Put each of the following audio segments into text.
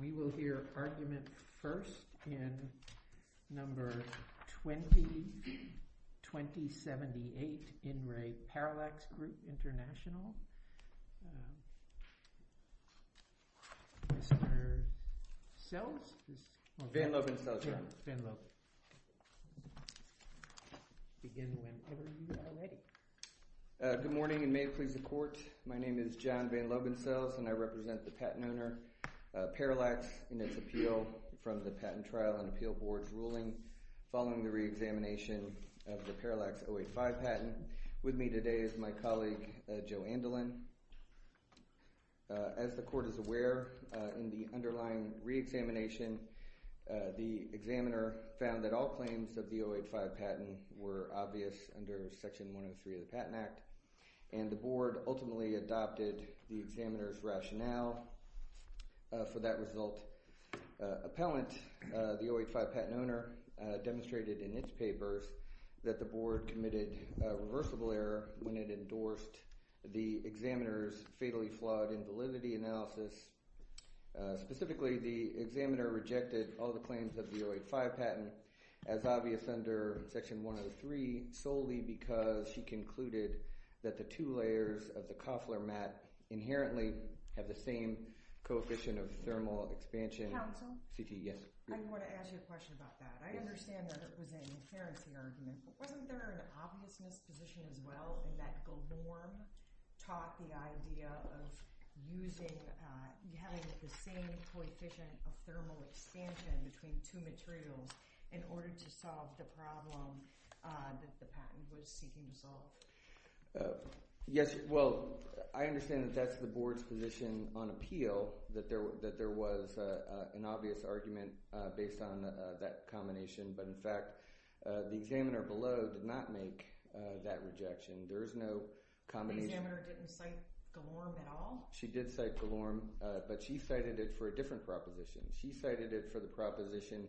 We will hear argument first in number 20, 2078 In Re Parallax Group International. Mr. Sells? Van Loben Sells, right? Van Loben. Begin whenever you are ready. Good morning and may it please the court. My name is John Van Loben Sells and I represent the patent owner, Parallax, in its appeal from the Patent Trial and Appeal Board's ruling following the reexamination of the Parallax 085 patent. With me today is my colleague, Joe Andelin. As the court is aware, in the underlying reexamination, the examiner found that all claims of the 085 patent were obvious under Section 103 of the Patent Act, and the board ultimately adopted the examiner's rationale. For that result, appellant, the 085 patent owner, demonstrated in its papers that the board committed a reversible error when it endorsed the examiner's fatally flawed invalidity analysis. Specifically, the examiner rejected all the claims of the 085 patent as obvious under Section 103 solely because she concluded that the two layers of the Koffler mat inherently have the same coefficient of thermal expansion. Counsel? C.T., yes. I want to ask you a question about that. I understand that it was an inherency argument, but wasn't there an obvious misposition as well in that Golorm taught the idea of using, having the same coefficient of thermal expansion between two materials in order to solve the problem that the patent was seeking to solve? Yes, well, I understand that that's the board's position on appeal, that there was an obvious argument based on that combination, but in fact, the examiner below did not make that rejection. There is no combination. The examiner didn't cite Golorm at all? She did cite Golorm, but she cited it for a different proposition. She cited it for the proposition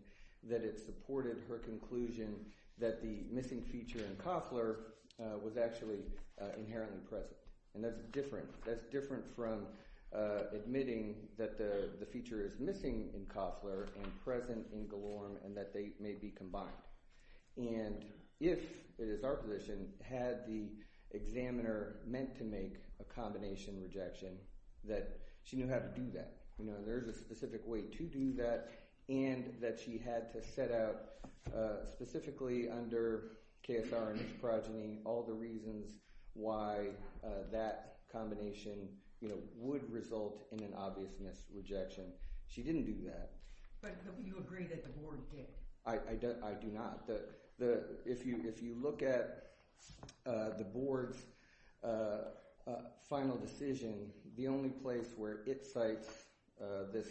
that it supported her conclusion that the missing feature in Koffler was actually inherently present, and that's different. That's different from admitting that the feature is missing in Koffler and present in Golorm and that they may be combined, and if it is our position, had the examiner meant to make a combination rejection, that she knew how to do that. There is a specific way to do that, and that she had to set out, specifically under KSR and its progeny, all the reasons why that combination would result in an obvious misrejection. She didn't do that. But you agree that the board did? I do not. If you look at the board's final decision, the only place where it cites this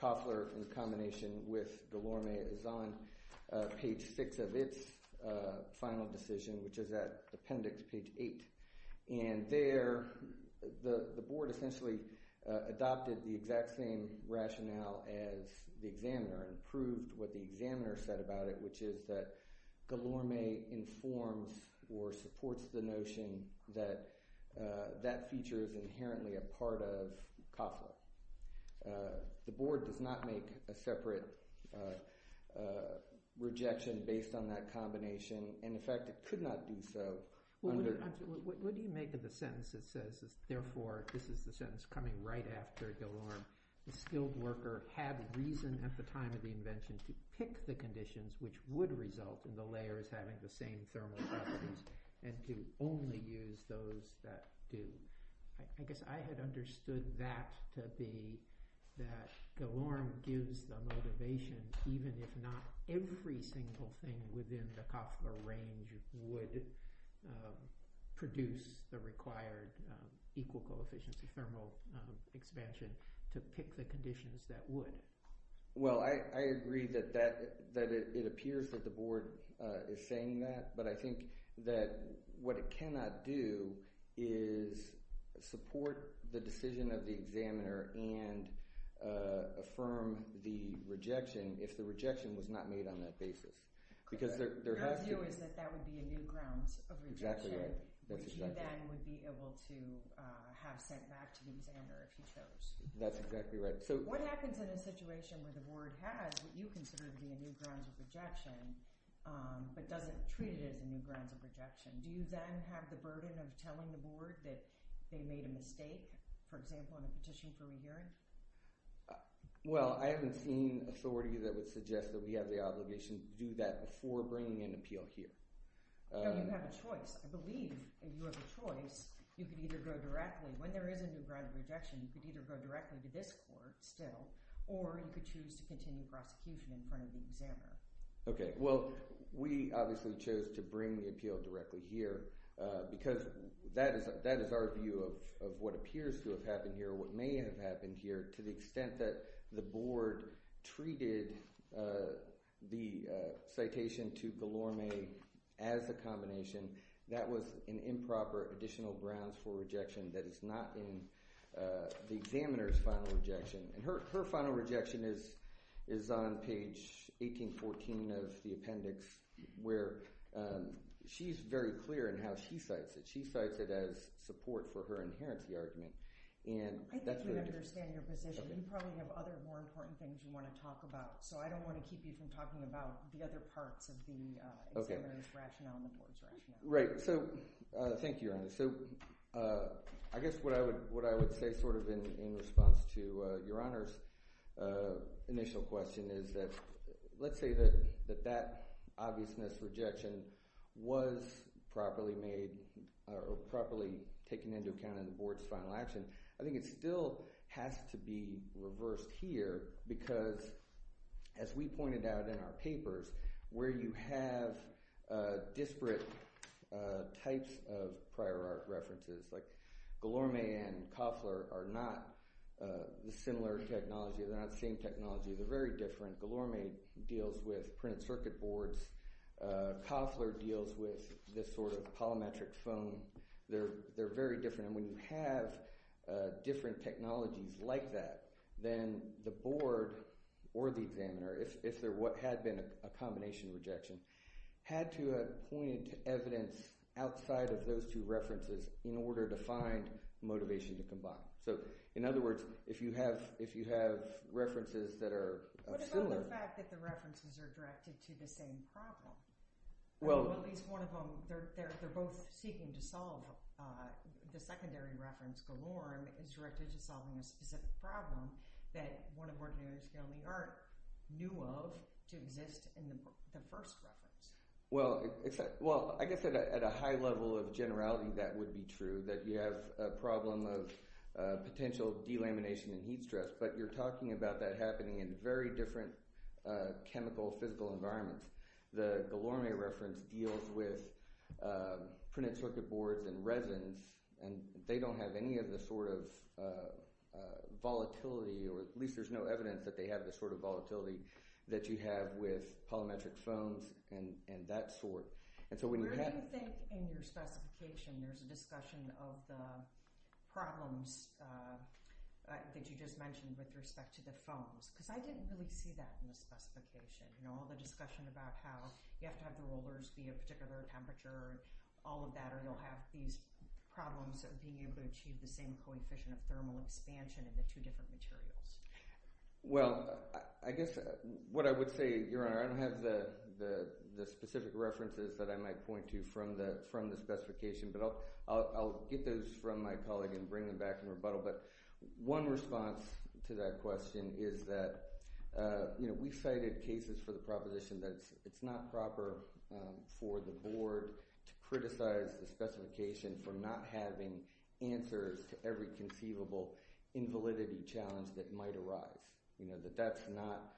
Koffler in combination with Golorm is on page six of its final decision, which is at appendix page eight. And there, the board essentially adopted the exact same rationale as the examiner and proved what the examiner said about it, which is that Golorm informs or supports the notion that that feature is inherently a part of Koffler. The board does not make a separate rejection based on that combination, and in fact, it could not do so under. What do you make of the sentence that says, therefore, this is the sentence coming right after Golorm, the skilled worker had reason at the time of the invention to pick the conditions which would result in the layers having the same thermal properties and to only use those that do. I guess I had understood that to be that Golorm gives the motivation, even if not every single thing within the Koffler range would produce the required equal coefficients of thermal expansion to pick the conditions that would. Well, I agree that it appears that the board is saying that, but I think that what it cannot do is support the decision of the examiner and affirm the rejection if the rejection was not made on that basis, because there has to be. Your view is that that would be a new grounds of rejection, which you then would be able to have sent back to the examiner if he chose. That's exactly right. So what happens in a situation where the board has what you consider to be a new grounds of rejection, but doesn't treat it as a new grounds of rejection, do you then have the burden of telling the board that they made a mistake, for example, on a petition for re-hearing? Well, I haven't seen authority that would suggest that we have the obligation to do that before bringing an appeal here. No, you have a choice. I believe if you have a choice, you could either go directly, when there is a new ground of rejection, you could either go directly to this court still, or you could choose to continue prosecution in front of the examiner. Okay, well, we obviously chose to bring the appeal directly here because that is our view of what appears to have happened here or what may have happened here to the extent that the board treated the citation to Gilorme as a combination. That was an improper additional grounds for rejection that is not in the examiner's final rejection. And her final rejection is on page 1814 of the appendix, where she's very clear in how she cites it. She cites it as support for her inherency argument, and that's what it is. I think we understand your position. You probably have other more important things you wanna talk about, so I don't wanna keep you from talking about the other parts of the examiner's rationale and the board's rationale. Right, so thank you, Your Honor. So I guess what I would say sort of in response to Your Honor's initial question is that let's say that that obviousness rejection was properly made or properly taken into account in the board's final action. I think it still has to be reversed here because as we pointed out in our papers, where you have disparate types of prior art references, like Gilorme and Koffler are not the similar technology. They're not the same technology. They're very different. Gilorme deals with printed circuit boards. Koffler deals with this sort of polymetric foam. They're very different. And when you have different technologies like that, then the board or the examiner, if there had been a combination rejection, had to have pointed to evidence outside of those two references in order to find motivation to combine. So in other words, if you have references that are similar. What about the fact that the references are directed to the same problem? Well. At least one of them, they're both seeking to solve, the secondary reference, Gilorme, is directed to solving a specific problem that one of our examiners in the art knew of to exist in the first reference. Well, I guess at a high level of generality, that would be true, that you have a problem of potential delamination and heat stress, but you're talking about that happening in very different chemical, physical environments. The Gilorme reference deals with printed circuit boards and resins, and they don't have any of the sort of volatility, or at least there's no evidence that they have the sort of volatility that you have with polymetric foams and that sort. And so when you have- There's a discussion of the problems that you just mentioned with respect to the foams, because I didn't really see that in the specification. You know, all the discussion about how you have to have the rollers be a particular temperature, all of that, or you'll have these problems of being able to achieve the same coefficient of thermal expansion in the two different materials. Well, I guess what I would say, Your Honor, I don't have the specific references that I might point to from the specification, but I'll get those from my colleague and bring them back in rebuttal. But one response to that question is that, you know, we've cited cases for the proposition that it's not proper for the board to criticize the specification for not having answers to every conceivable invalidity challenge that might arise. You know, that that's not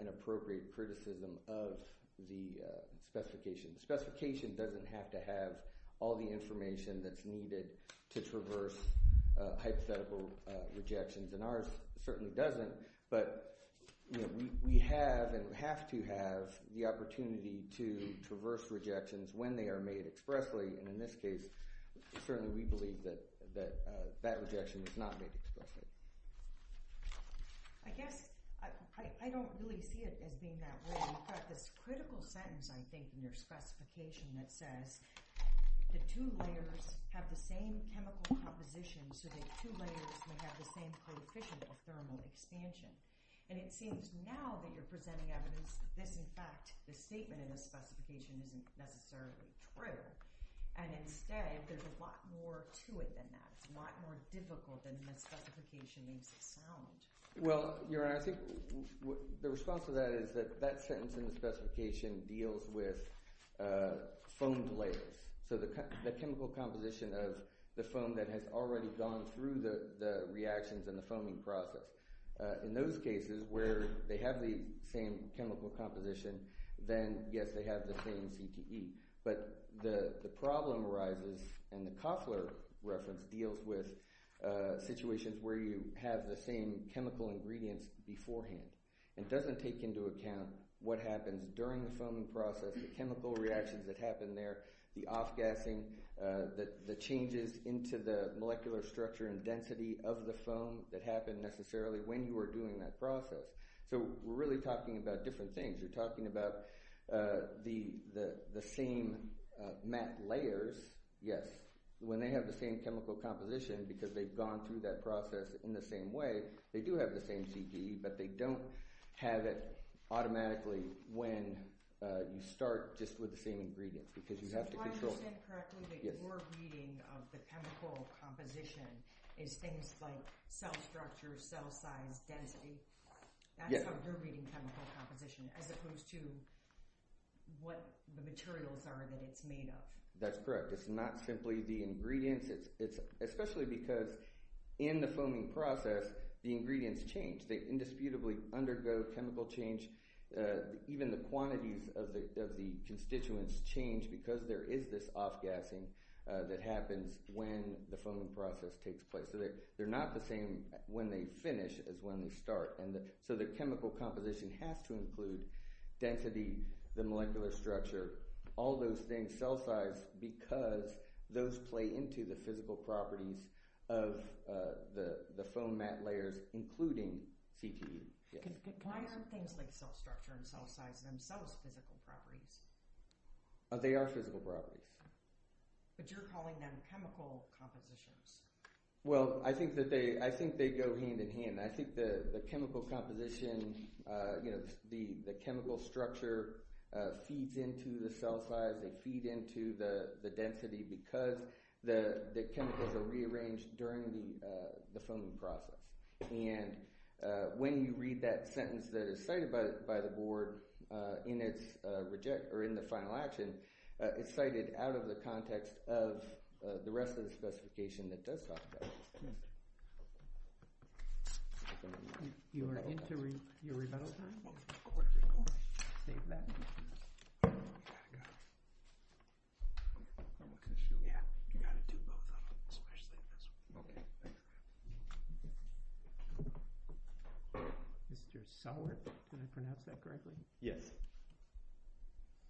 an appropriate criticism of the specification. The specification doesn't have to have all the information that's needed to traverse hypothetical rejections, and ours certainly doesn't. But, you know, we have and have to have the opportunity to traverse rejections when they are made expressly, and in this case, certainly we believe that that rejection was not made expressly. I guess, I don't really see it as being that way. You've got this critical sentence, I think, in your specification that says, the two layers have the same chemical composition so that two layers may have the same coefficient of thermal expansion. And it seems now that you're presenting evidence that this, in fact, the statement in the specification isn't necessarily true. And instead, there's a lot more to it than that. It's a lot more difficult than the specification makes it sound. Well, Your Honor, I think the response to that is that that sentence in the specification deals with foamed layers. So the chemical composition of the foam that has already gone through the reactions and the foaming process. In those cases where they have the same chemical composition, then yes, they have the same CTE. But the problem arises, and the Koffler reference deals with situations where you have the same chemical ingredients beforehand. It doesn't take into account what happens during the foaming process, the chemical reactions that happen there, the off-gassing, the changes into the molecular structure and density of the foam that happen necessarily when you are doing that process. So we're really talking about different things. You're talking about the same matte layers, yes, when they have the same chemical composition because they've gone through that process in the same way, they do have the same CTE, but they don't have it automatically when you start just with the same ingredients because you have to control. So if I understand correctly, that you're reading of the chemical composition is things like cell structure, cell size, density. That's how you're reading chemical composition as opposed to what the materials are that it's made of. That's correct. It's not simply the ingredients. Especially because in the foaming process, the ingredients change. They indisputably undergo chemical change. Even the quantities of the constituents change because there is this off-gassing that happens when the foaming process takes place. So they're not the same when they finish as when they start. So the chemical composition has to include density, the molecular structure, all those things, cell size, because those play into the physical properties of the foam mat layers, including CTE. Yes. Why aren't things like cell structure and cell size themselves physical properties? They are physical properties. But you're calling them chemical compositions. Well, I think that they go hand in hand. I think the chemical composition, the chemical structure feeds into the cell size. They feed into the density because the chemicals are rearranged during the foaming process. And when you read that sentence that is cited by the board in the final action, it's cited out of the context of the rest of the specification that does talk about it. You are into your rebuttal time? Of course. Of course. Save that. I gotta go. I'm gonna shoot. Yeah, you gotta do both of them, especially this one. Okay, thanks. Mr. Solwert, did I pronounce that correctly? Yes.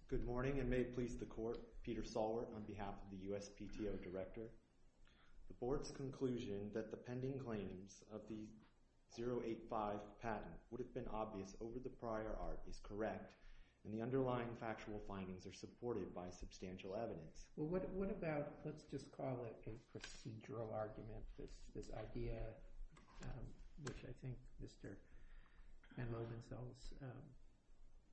Good morning, and may it please the court, Peter Solwert on behalf of the USPTO director. The board's conclusion that the pending claims of the 085 patent would have been obvious over the prior art is correct, and the underlying factual findings are supported by substantial evidence. Well, what about, let's just call it a procedural argument, this idea, which I think Mr. Van Lomansels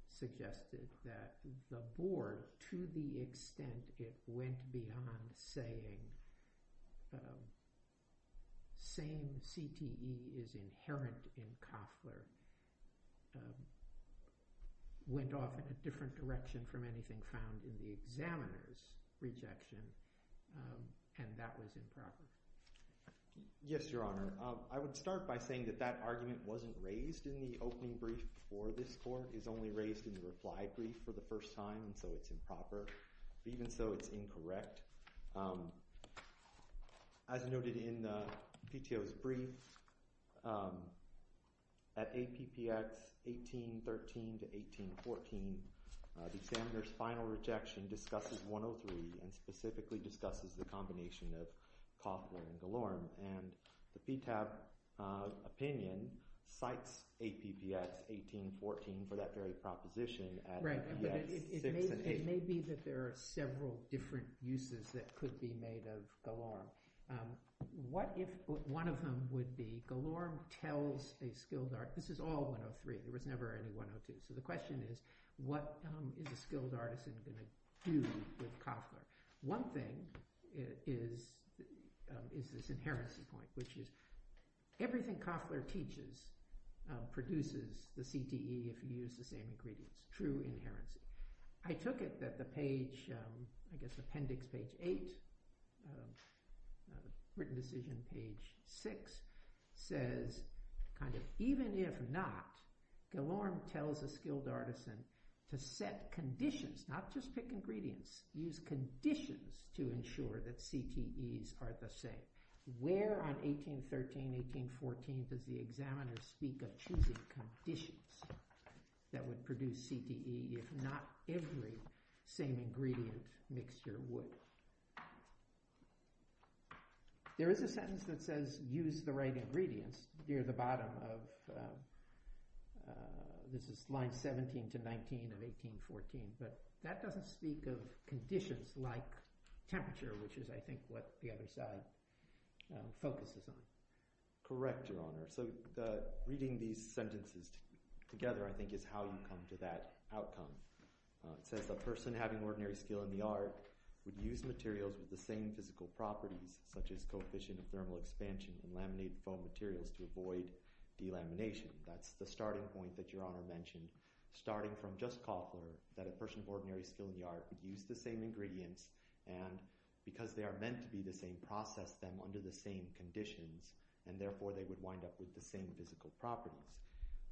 suggested, that the board, to the extent it went beyond saying, same CTE is inherent in Koffler, went off in a different direction from anything found in the examiner's rejection, and that was improper. Yes, Your Honor. I would start by saying that that argument wasn't raised in the opening brief before this court, it's only raised in the reply brief for the first time, and so it's improper. As noted in the PTO's brief, at APPX 1813 to 1814, the examiner's final rejection discusses 103, and specifically discusses the combination of Koffler and Galorme, and the PTAB opinion cites APPX 1814 for that very proposition at APPX 6 and 8. It may be that there are several different uses that could be made of Galorme. What if one of them would be, Galorme tells a skilled artist, this is all 103, there was never any 102, so the question is, what is a skilled artisan gonna do with Koffler? One thing is this inherency point, which is everything Koffler teaches produces the CTE if you use the same ingredients, true inherency. I took it that the page, I guess appendix page eight, written decision page six, says kind of even if not, Galorme tells a skilled artisan to set conditions, not just pick ingredients, use conditions to ensure that CTEs are the same. Where on 1813, 1814 does the examiner speak of choosing conditions that would produce CTE if not every same ingredient mixture would? There is a sentence that says use the right ingredients near the bottom of, this is line 17 to 19 of 1814, but that doesn't speak of conditions like temperature, which is I think what the other side focuses on. Correct, Your Honor. So reading these sentences together, I think is how you come to that outcome. It says a person having ordinary skill in the art would use materials with the same physical properties such as coefficient of thermal expansion and laminate foam materials to avoid delamination. That's the starting point that Your Honor mentioned, starting from just Koffler, that a person of ordinary skill in the art would use the same ingredients and because they are meant to be the same, process them under the same conditions and therefore they would wind up with the same physical properties.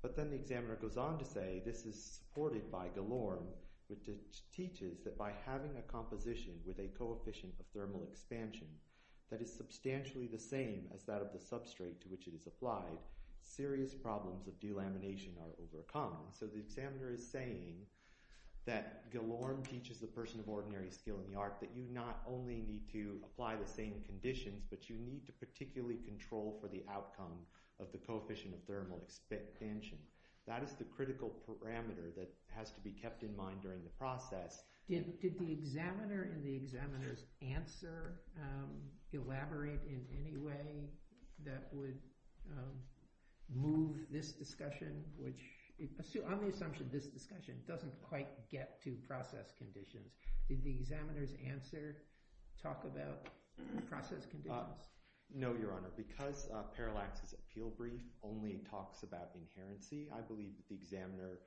But then the examiner goes on to say, this is supported by Galorme, which teaches that by having a composition with a coefficient of thermal expansion that is substantially the same as that of the substrate to which it is applied, serious problems of delamination are overcome. So the examiner is saying that Galorme teaches the person of ordinary skill in the art that you not only need to apply the same conditions, but you need to particularly control for the outcome of the coefficient of thermal expansion. That is the critical parameter that has to be kept in mind during the process. Did the examiner and the examiner's answer elaborate in any way that would move this discussion, which on the assumption of this discussion, doesn't quite get to process conditions. Did the examiner's answer talk about process conditions? No, Your Honor, because Parallax's appeal brief only talks about inherency, I believe that the examiner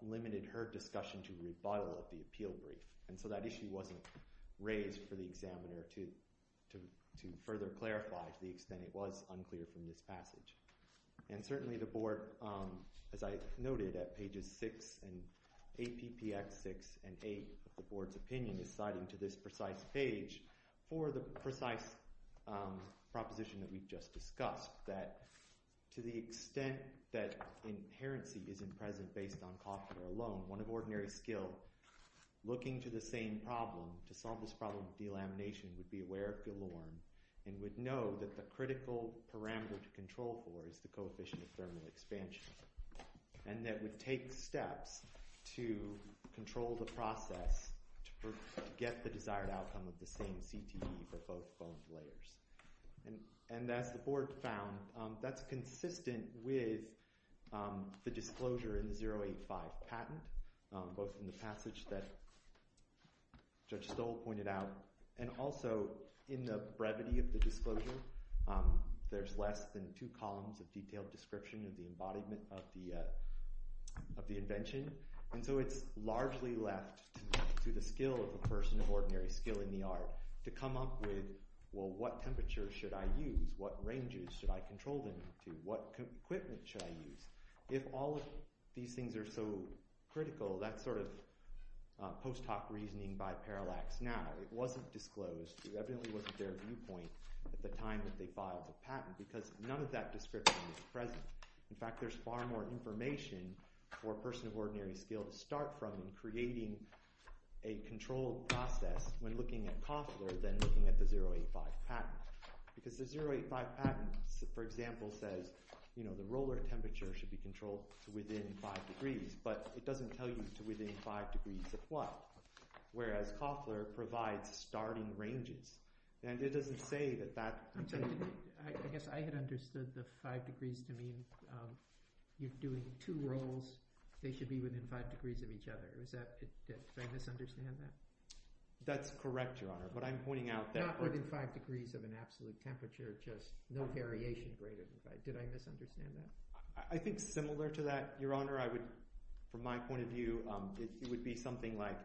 limited her discussion to a rebuttal of the appeal brief. And so that issue wasn't raised for the examiner to further clarify to the extent it was unclear from this passage. And certainly the board, as I noted at pages six and APPX six and eight, the board's opinion is citing to this precise page for the precise proposition that we've just discussed that to the extent that inherency isn't present based on coffee alone, one of ordinary skill, looking to the same problem to solve this problem of delamination would be aware of galore and would know that the critical parameter to control for is the coefficient of thermal expansion. And that would take steps to control the process to get the desired outcome of the same CTE for both bone layers. And as the board found, that's consistent with the disclosure in the 085 patent, both in the passage that Judge Stoll pointed out and also in the brevity of the disclosure, there's less than two columns of detailed description of the embodiment of the invention. And so it's largely left to the skill of a person of ordinary skill in the art to come up with, well, what temperature should I use? What ranges should I control them to? What equipment should I use? If all of these things are so critical, that's sort of post hoc reasoning by parallax. Now, it wasn't disclosed, it evidently wasn't their viewpoint at the time that they filed the patent because none of that description is present. In fact, there's far more information for a person of ordinary skill to start from in creating a controlled process when looking at Koffler than looking at the 085 patent. Because the 085 patent, for example, says the roller temperature should be controlled to within five degrees, but it doesn't tell you to within five degrees of what, whereas Koffler provides starting ranges. And it doesn't say that that- I'm sorry, I guess I had understood the five degrees to mean you're doing two rolls, they should be within five degrees of each other. Is that, did I misunderstand that? That's correct, Your Honor, but I'm pointing out that- absolute temperature, just no variation greater than five. Did I misunderstand that? I think similar to that, Your Honor, I would, from my point of view, it would be something like,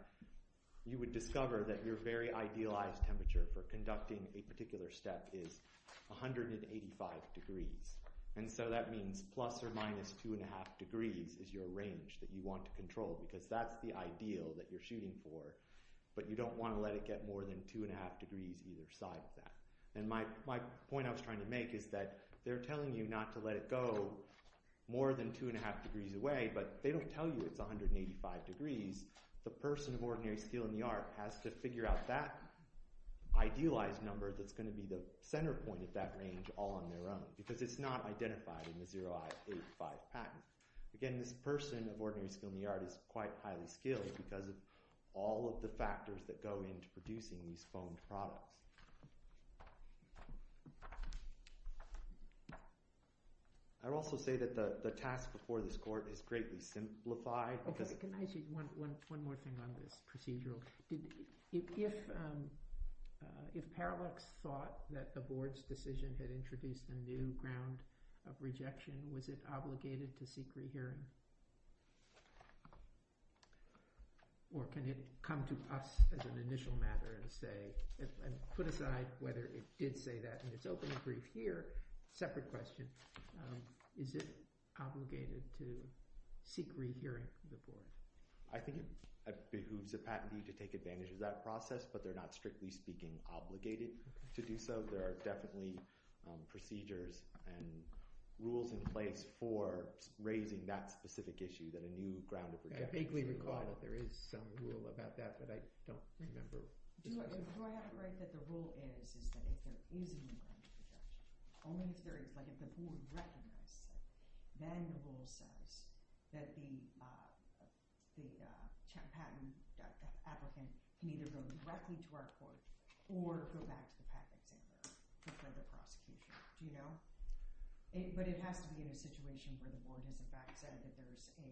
you would discover that your very idealized temperature for conducting a particular step is 185 degrees. And so that means plus or minus two and a half degrees is your range that you want to control because that's the ideal that you're shooting for, but you don't want to let it get more than two and a half degrees either side of that. My point I was trying to make is that they're telling you not to let it go more than two and a half degrees away, but they don't tell you it's 185 degrees. The person of ordinary skill in the art has to figure out that idealized number that's gonna be the center point of that range all on their own, because it's not identified in the 0I85 patent. Again, this person of ordinary skill in the art is quite highly skilled because of all of the factors that go into producing these foamed products. Thank you. I'll also say that the task before this court is greatly simplified because- Can I say one more thing on this procedural? If Parallax thought that the board's decision had introduced a new ground of rejection, was it obligated to seek rehearing? Or can it come to us as an initial matter and say, put aside whether it did say that, and it's open and brief here, separate question, is it obligated to seek rehearing of the board? I think it behooves the patentee to take advantage of that process, but they're not, strictly speaking, obligated to do so. There are definitely procedures and rules in place for raising that specific issue, that a new ground of rejection- I vaguely recall that there is some rule about that, but I don't remember. Do I have it right that the rule is, is that if there is a new ground of rejection, only if there is, like if the board recognizes it, then the rule says that the patent applicant can either go directly to our court or go back to the patent examiner for further prosecution. Do you know? But it has to be in a situation where the board has in fact said that there's a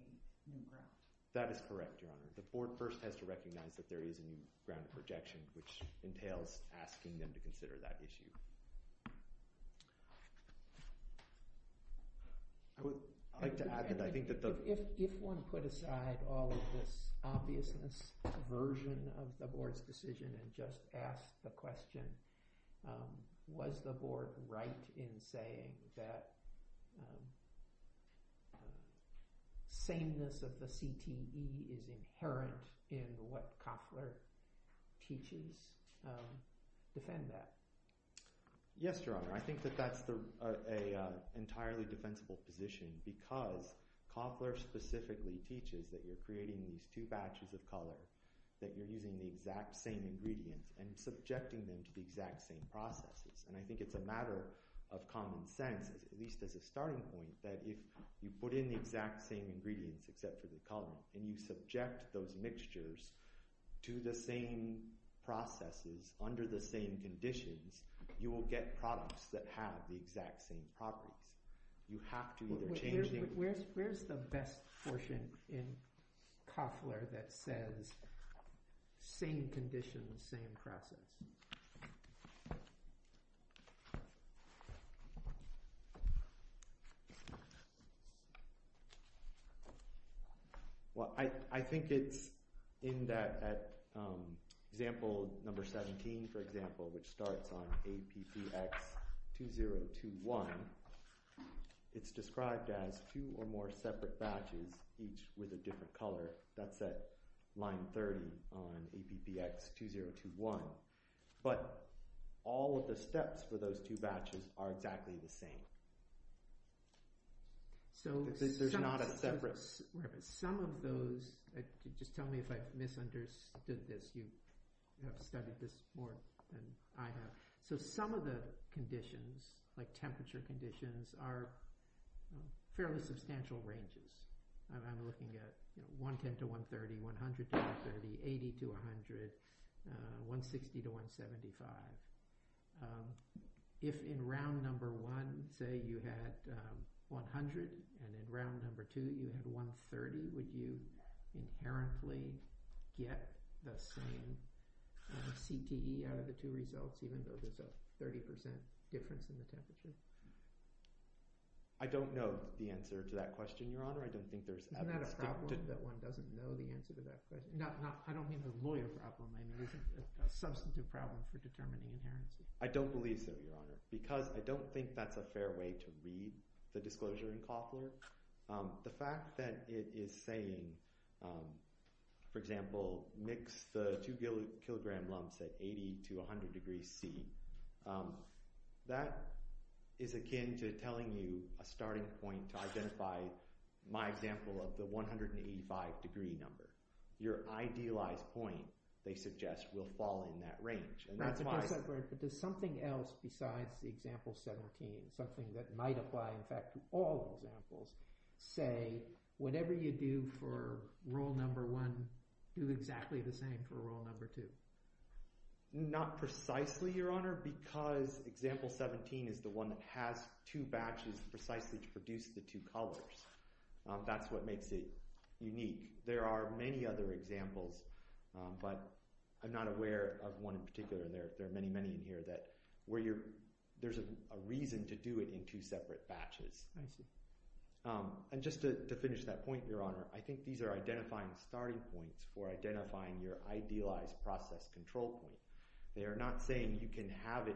new ground. That is correct, Your Honor. The board first has to recognize that there is a new ground of rejection, which entails asking them to consider that issue. I would like to add that I think that the- If one put aside all of this obviousness version of the board's decision and just asked the question, was the board right in saying that sameness of the CTE is inherent in what Koffler teaches? Defend that. Yes, Your Honor. I think that that's an entirely defensible position because Koffler specifically teaches that you're creating these two batches of color, that you're using the exact same ingredients and subjecting them to the exact same processes. And I think it's a matter of common sense, at least as a starting point, that if you put in the exact same ingredients except for the color, and you subject those mixtures to the same processes under the same conditions, you will get products that have the exact same properties. You have to either change the- Where's the best portion in Koffler that says same conditions, same process? Well, I think it's in that example, number 17, for example, which starts on APPX-2021, it's described as two or more separate batches, each with a different color. That's at line 30 on APPX-2021. But all of the steps for those two batches are exactly the same. So- There's not a separate- Some of those, just tell me if I've misunderstood this. You have studied this more than I have. So some of the conditions, like temperature conditions, are fairly substantial ranges. I'm looking at 110 to 130, 100 to 130, 80 to 100, 160 to 175. If in round number one, say, you had 100, and in round number two, you had 130, would you inherently get the same CTE out of the two results, even though there's a 30% difference in the temperature? I don't know the answer to that question, Your Honor. I don't think there's- Isn't that a problem, that one doesn't know the answer to that question? No, I don't mean a lawyer problem. I mean, it's a substantive problem for determining inherency. I don't believe so, Your Honor, because I don't think that's a fair way to read the disclosure in COPLAR. The fact that it is saying, for example, mix the two kilogram lumps at 80 to 100 degrees C, that is akin to telling you a starting point to identify my example of the 185 degree number. Your idealized point, they suggest, will fall in that range. That's a good segue, but there's something else besides the example 17, something that might apply, in fact, to all examples, say, whatever you do for rule number one, do exactly the same for rule number two. Not precisely, Your Honor, because example 17 is the one that has two batches precisely to produce the two colors. That's what makes it unique. There are many other examples, but I'm not aware of one in particular. There are many, many in here that there's a reason to do it in two separate batches. I see. And just to finish that point, Your Honor, I think these are identifying starting points for identifying your idealized process control point. They are not saying you can have it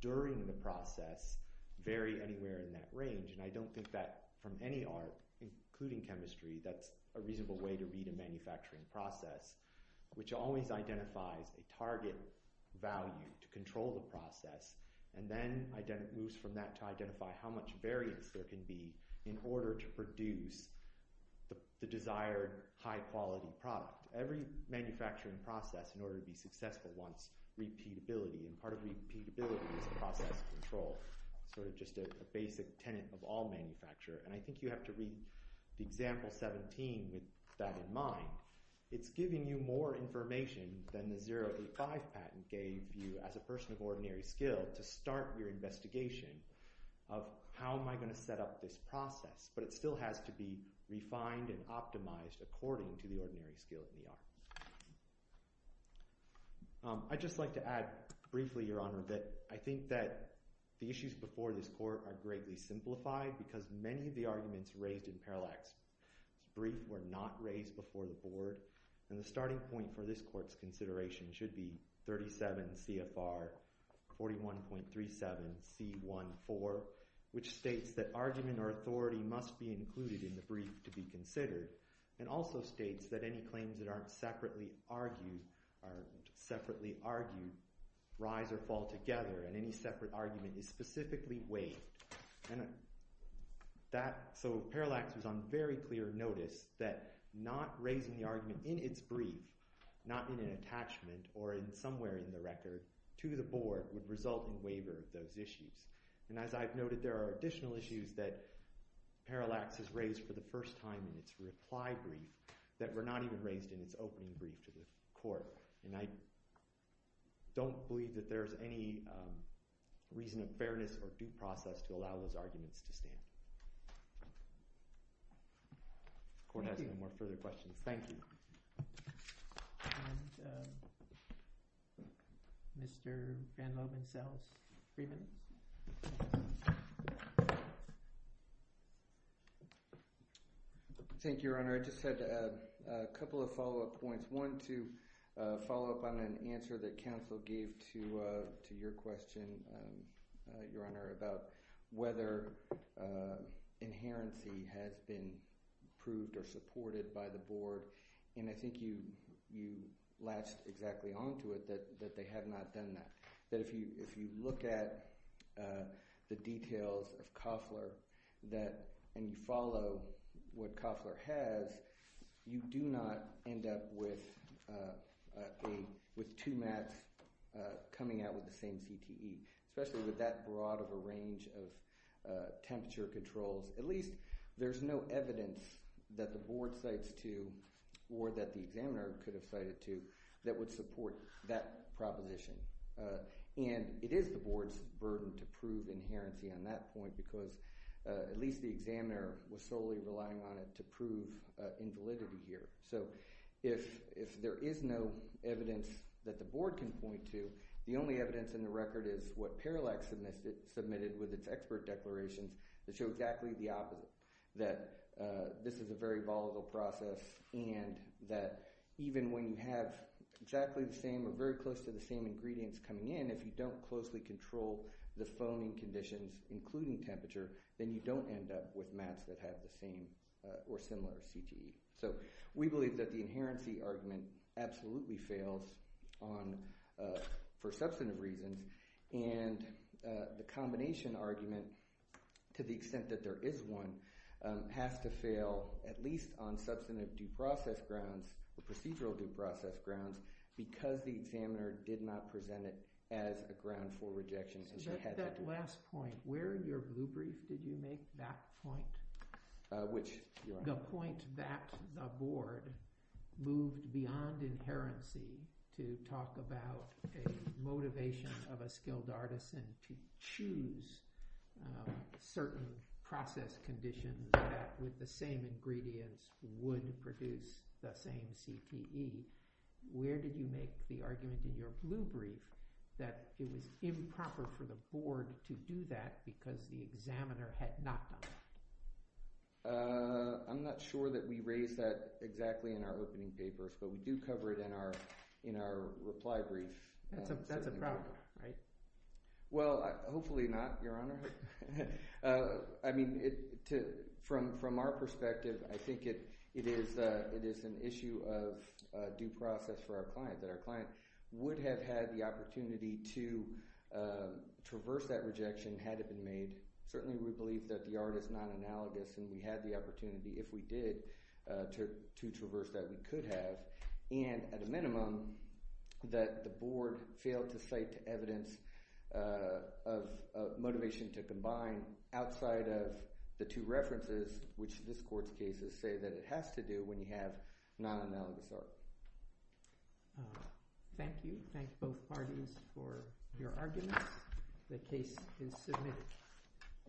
during the process, vary anywhere in that range, and I don't think that from any art, including chemistry, that's a reasonable way to read a manufacturing process, which always identifies a target value to control the process, and then moves from that to identify how much variance there can be in order to produce the desired high-quality product. Every manufacturing process, in order to be successful, wants repeatability, and part of repeatability is process control, sort of just a basic tenet of all manufacture, and I think you have to read the example 17 with that in mind. It's giving you more information than the 085 patent gave you, as a person of ordinary skill, to start your investigation of how am I going to set up this process, but it still has to be refined and optimized according to the ordinary skill in the art. I'd just like to add briefly, Your Honor, that I think that the issues before this court are greatly simplified because many of the arguments raised in Parallax's brief were not raised before the board, and the starting point for this court's consideration should be 37 CFR 41.37 C1.4, which states that argument or authority must be included in the brief to be considered, and also states that any claims that aren't separately argued rise or fall together, and any separate argument is specifically waived, and that, so Parallax was on very clear notice that not raising the argument in its brief, not in an attachment or in somewhere in the record, to the board would result in waiver of those issues, and as I've noted, there are additional issues that Parallax has raised for the first time in its reply brief that were not even raised in its opening brief to the court, and I don't believe that there's any reason of fairness or due process to allow those arguments to stand. Court has no more further questions. Thank you. And Mr. Van Loven-Sells-Freeman. Thank you, Your Honor. I just had a couple of follow-up points. One, to follow up on an answer that counsel gave to your question, Your Honor, about whether inherency has been proved or supported by the board, and I think you latched exactly onto it that they have not done that, that if you look at the details of Koffler, and you follow what Koffler has, you do not end up with two mats coming out with the same CTE, especially with that broad of a range of temperature controls. At least there's no evidence that the board cites to, or that the examiner could have cited to, that would support that proposition, and it is the board's burden to prove inherency on that point, because at least the examiner was solely relying on it to prove invalidity here. So if there is no evidence that the board can point to, the only evidence in the record is what Parallax submitted with its expert declarations that show exactly the opposite, that this is a very volatile process, and that even when you have exactly the same or very close to the same ingredients coming in, if you don't closely control the phoning conditions, including temperature, then you don't end up with mats that have the same or similar CTE. So we believe that the inherency argument absolutely fails on, for substantive reasons, and the combination argument, to the extent that there is one, has to fail at least on substantive due process grounds, or procedural due process grounds, because the examiner did not present it as a ground for rejection, and they had to do it. So at that last point, where in your blue brief did you make that point? Which, your honor? The point that the board moved beyond inherency to talk about a motivation of a skilled artisan to choose certain process conditions that with the same ingredients would produce the same CTE. Where did you make the argument in your blue brief that it was improper for the board to do that because the examiner had not done it? I'm not sure that we raised that exactly in our opening papers, but we do cover it in our reply brief. That's a problem, right? Well, hopefully not, your honor. I mean, from our perspective, I think it is an issue of due process for our client, that our client would have had the opportunity to traverse that rejection had it been made. Certainly we believe that the art is non-analogous and we had the opportunity, if we did, to traverse that, we could have. And at a minimum, that the board failed to cite evidence of motivation to combine outside of the two references, which this court's cases say that it has to do when you have non-analogous art. Thank you, thank both parties for your arguments. The case is submitted.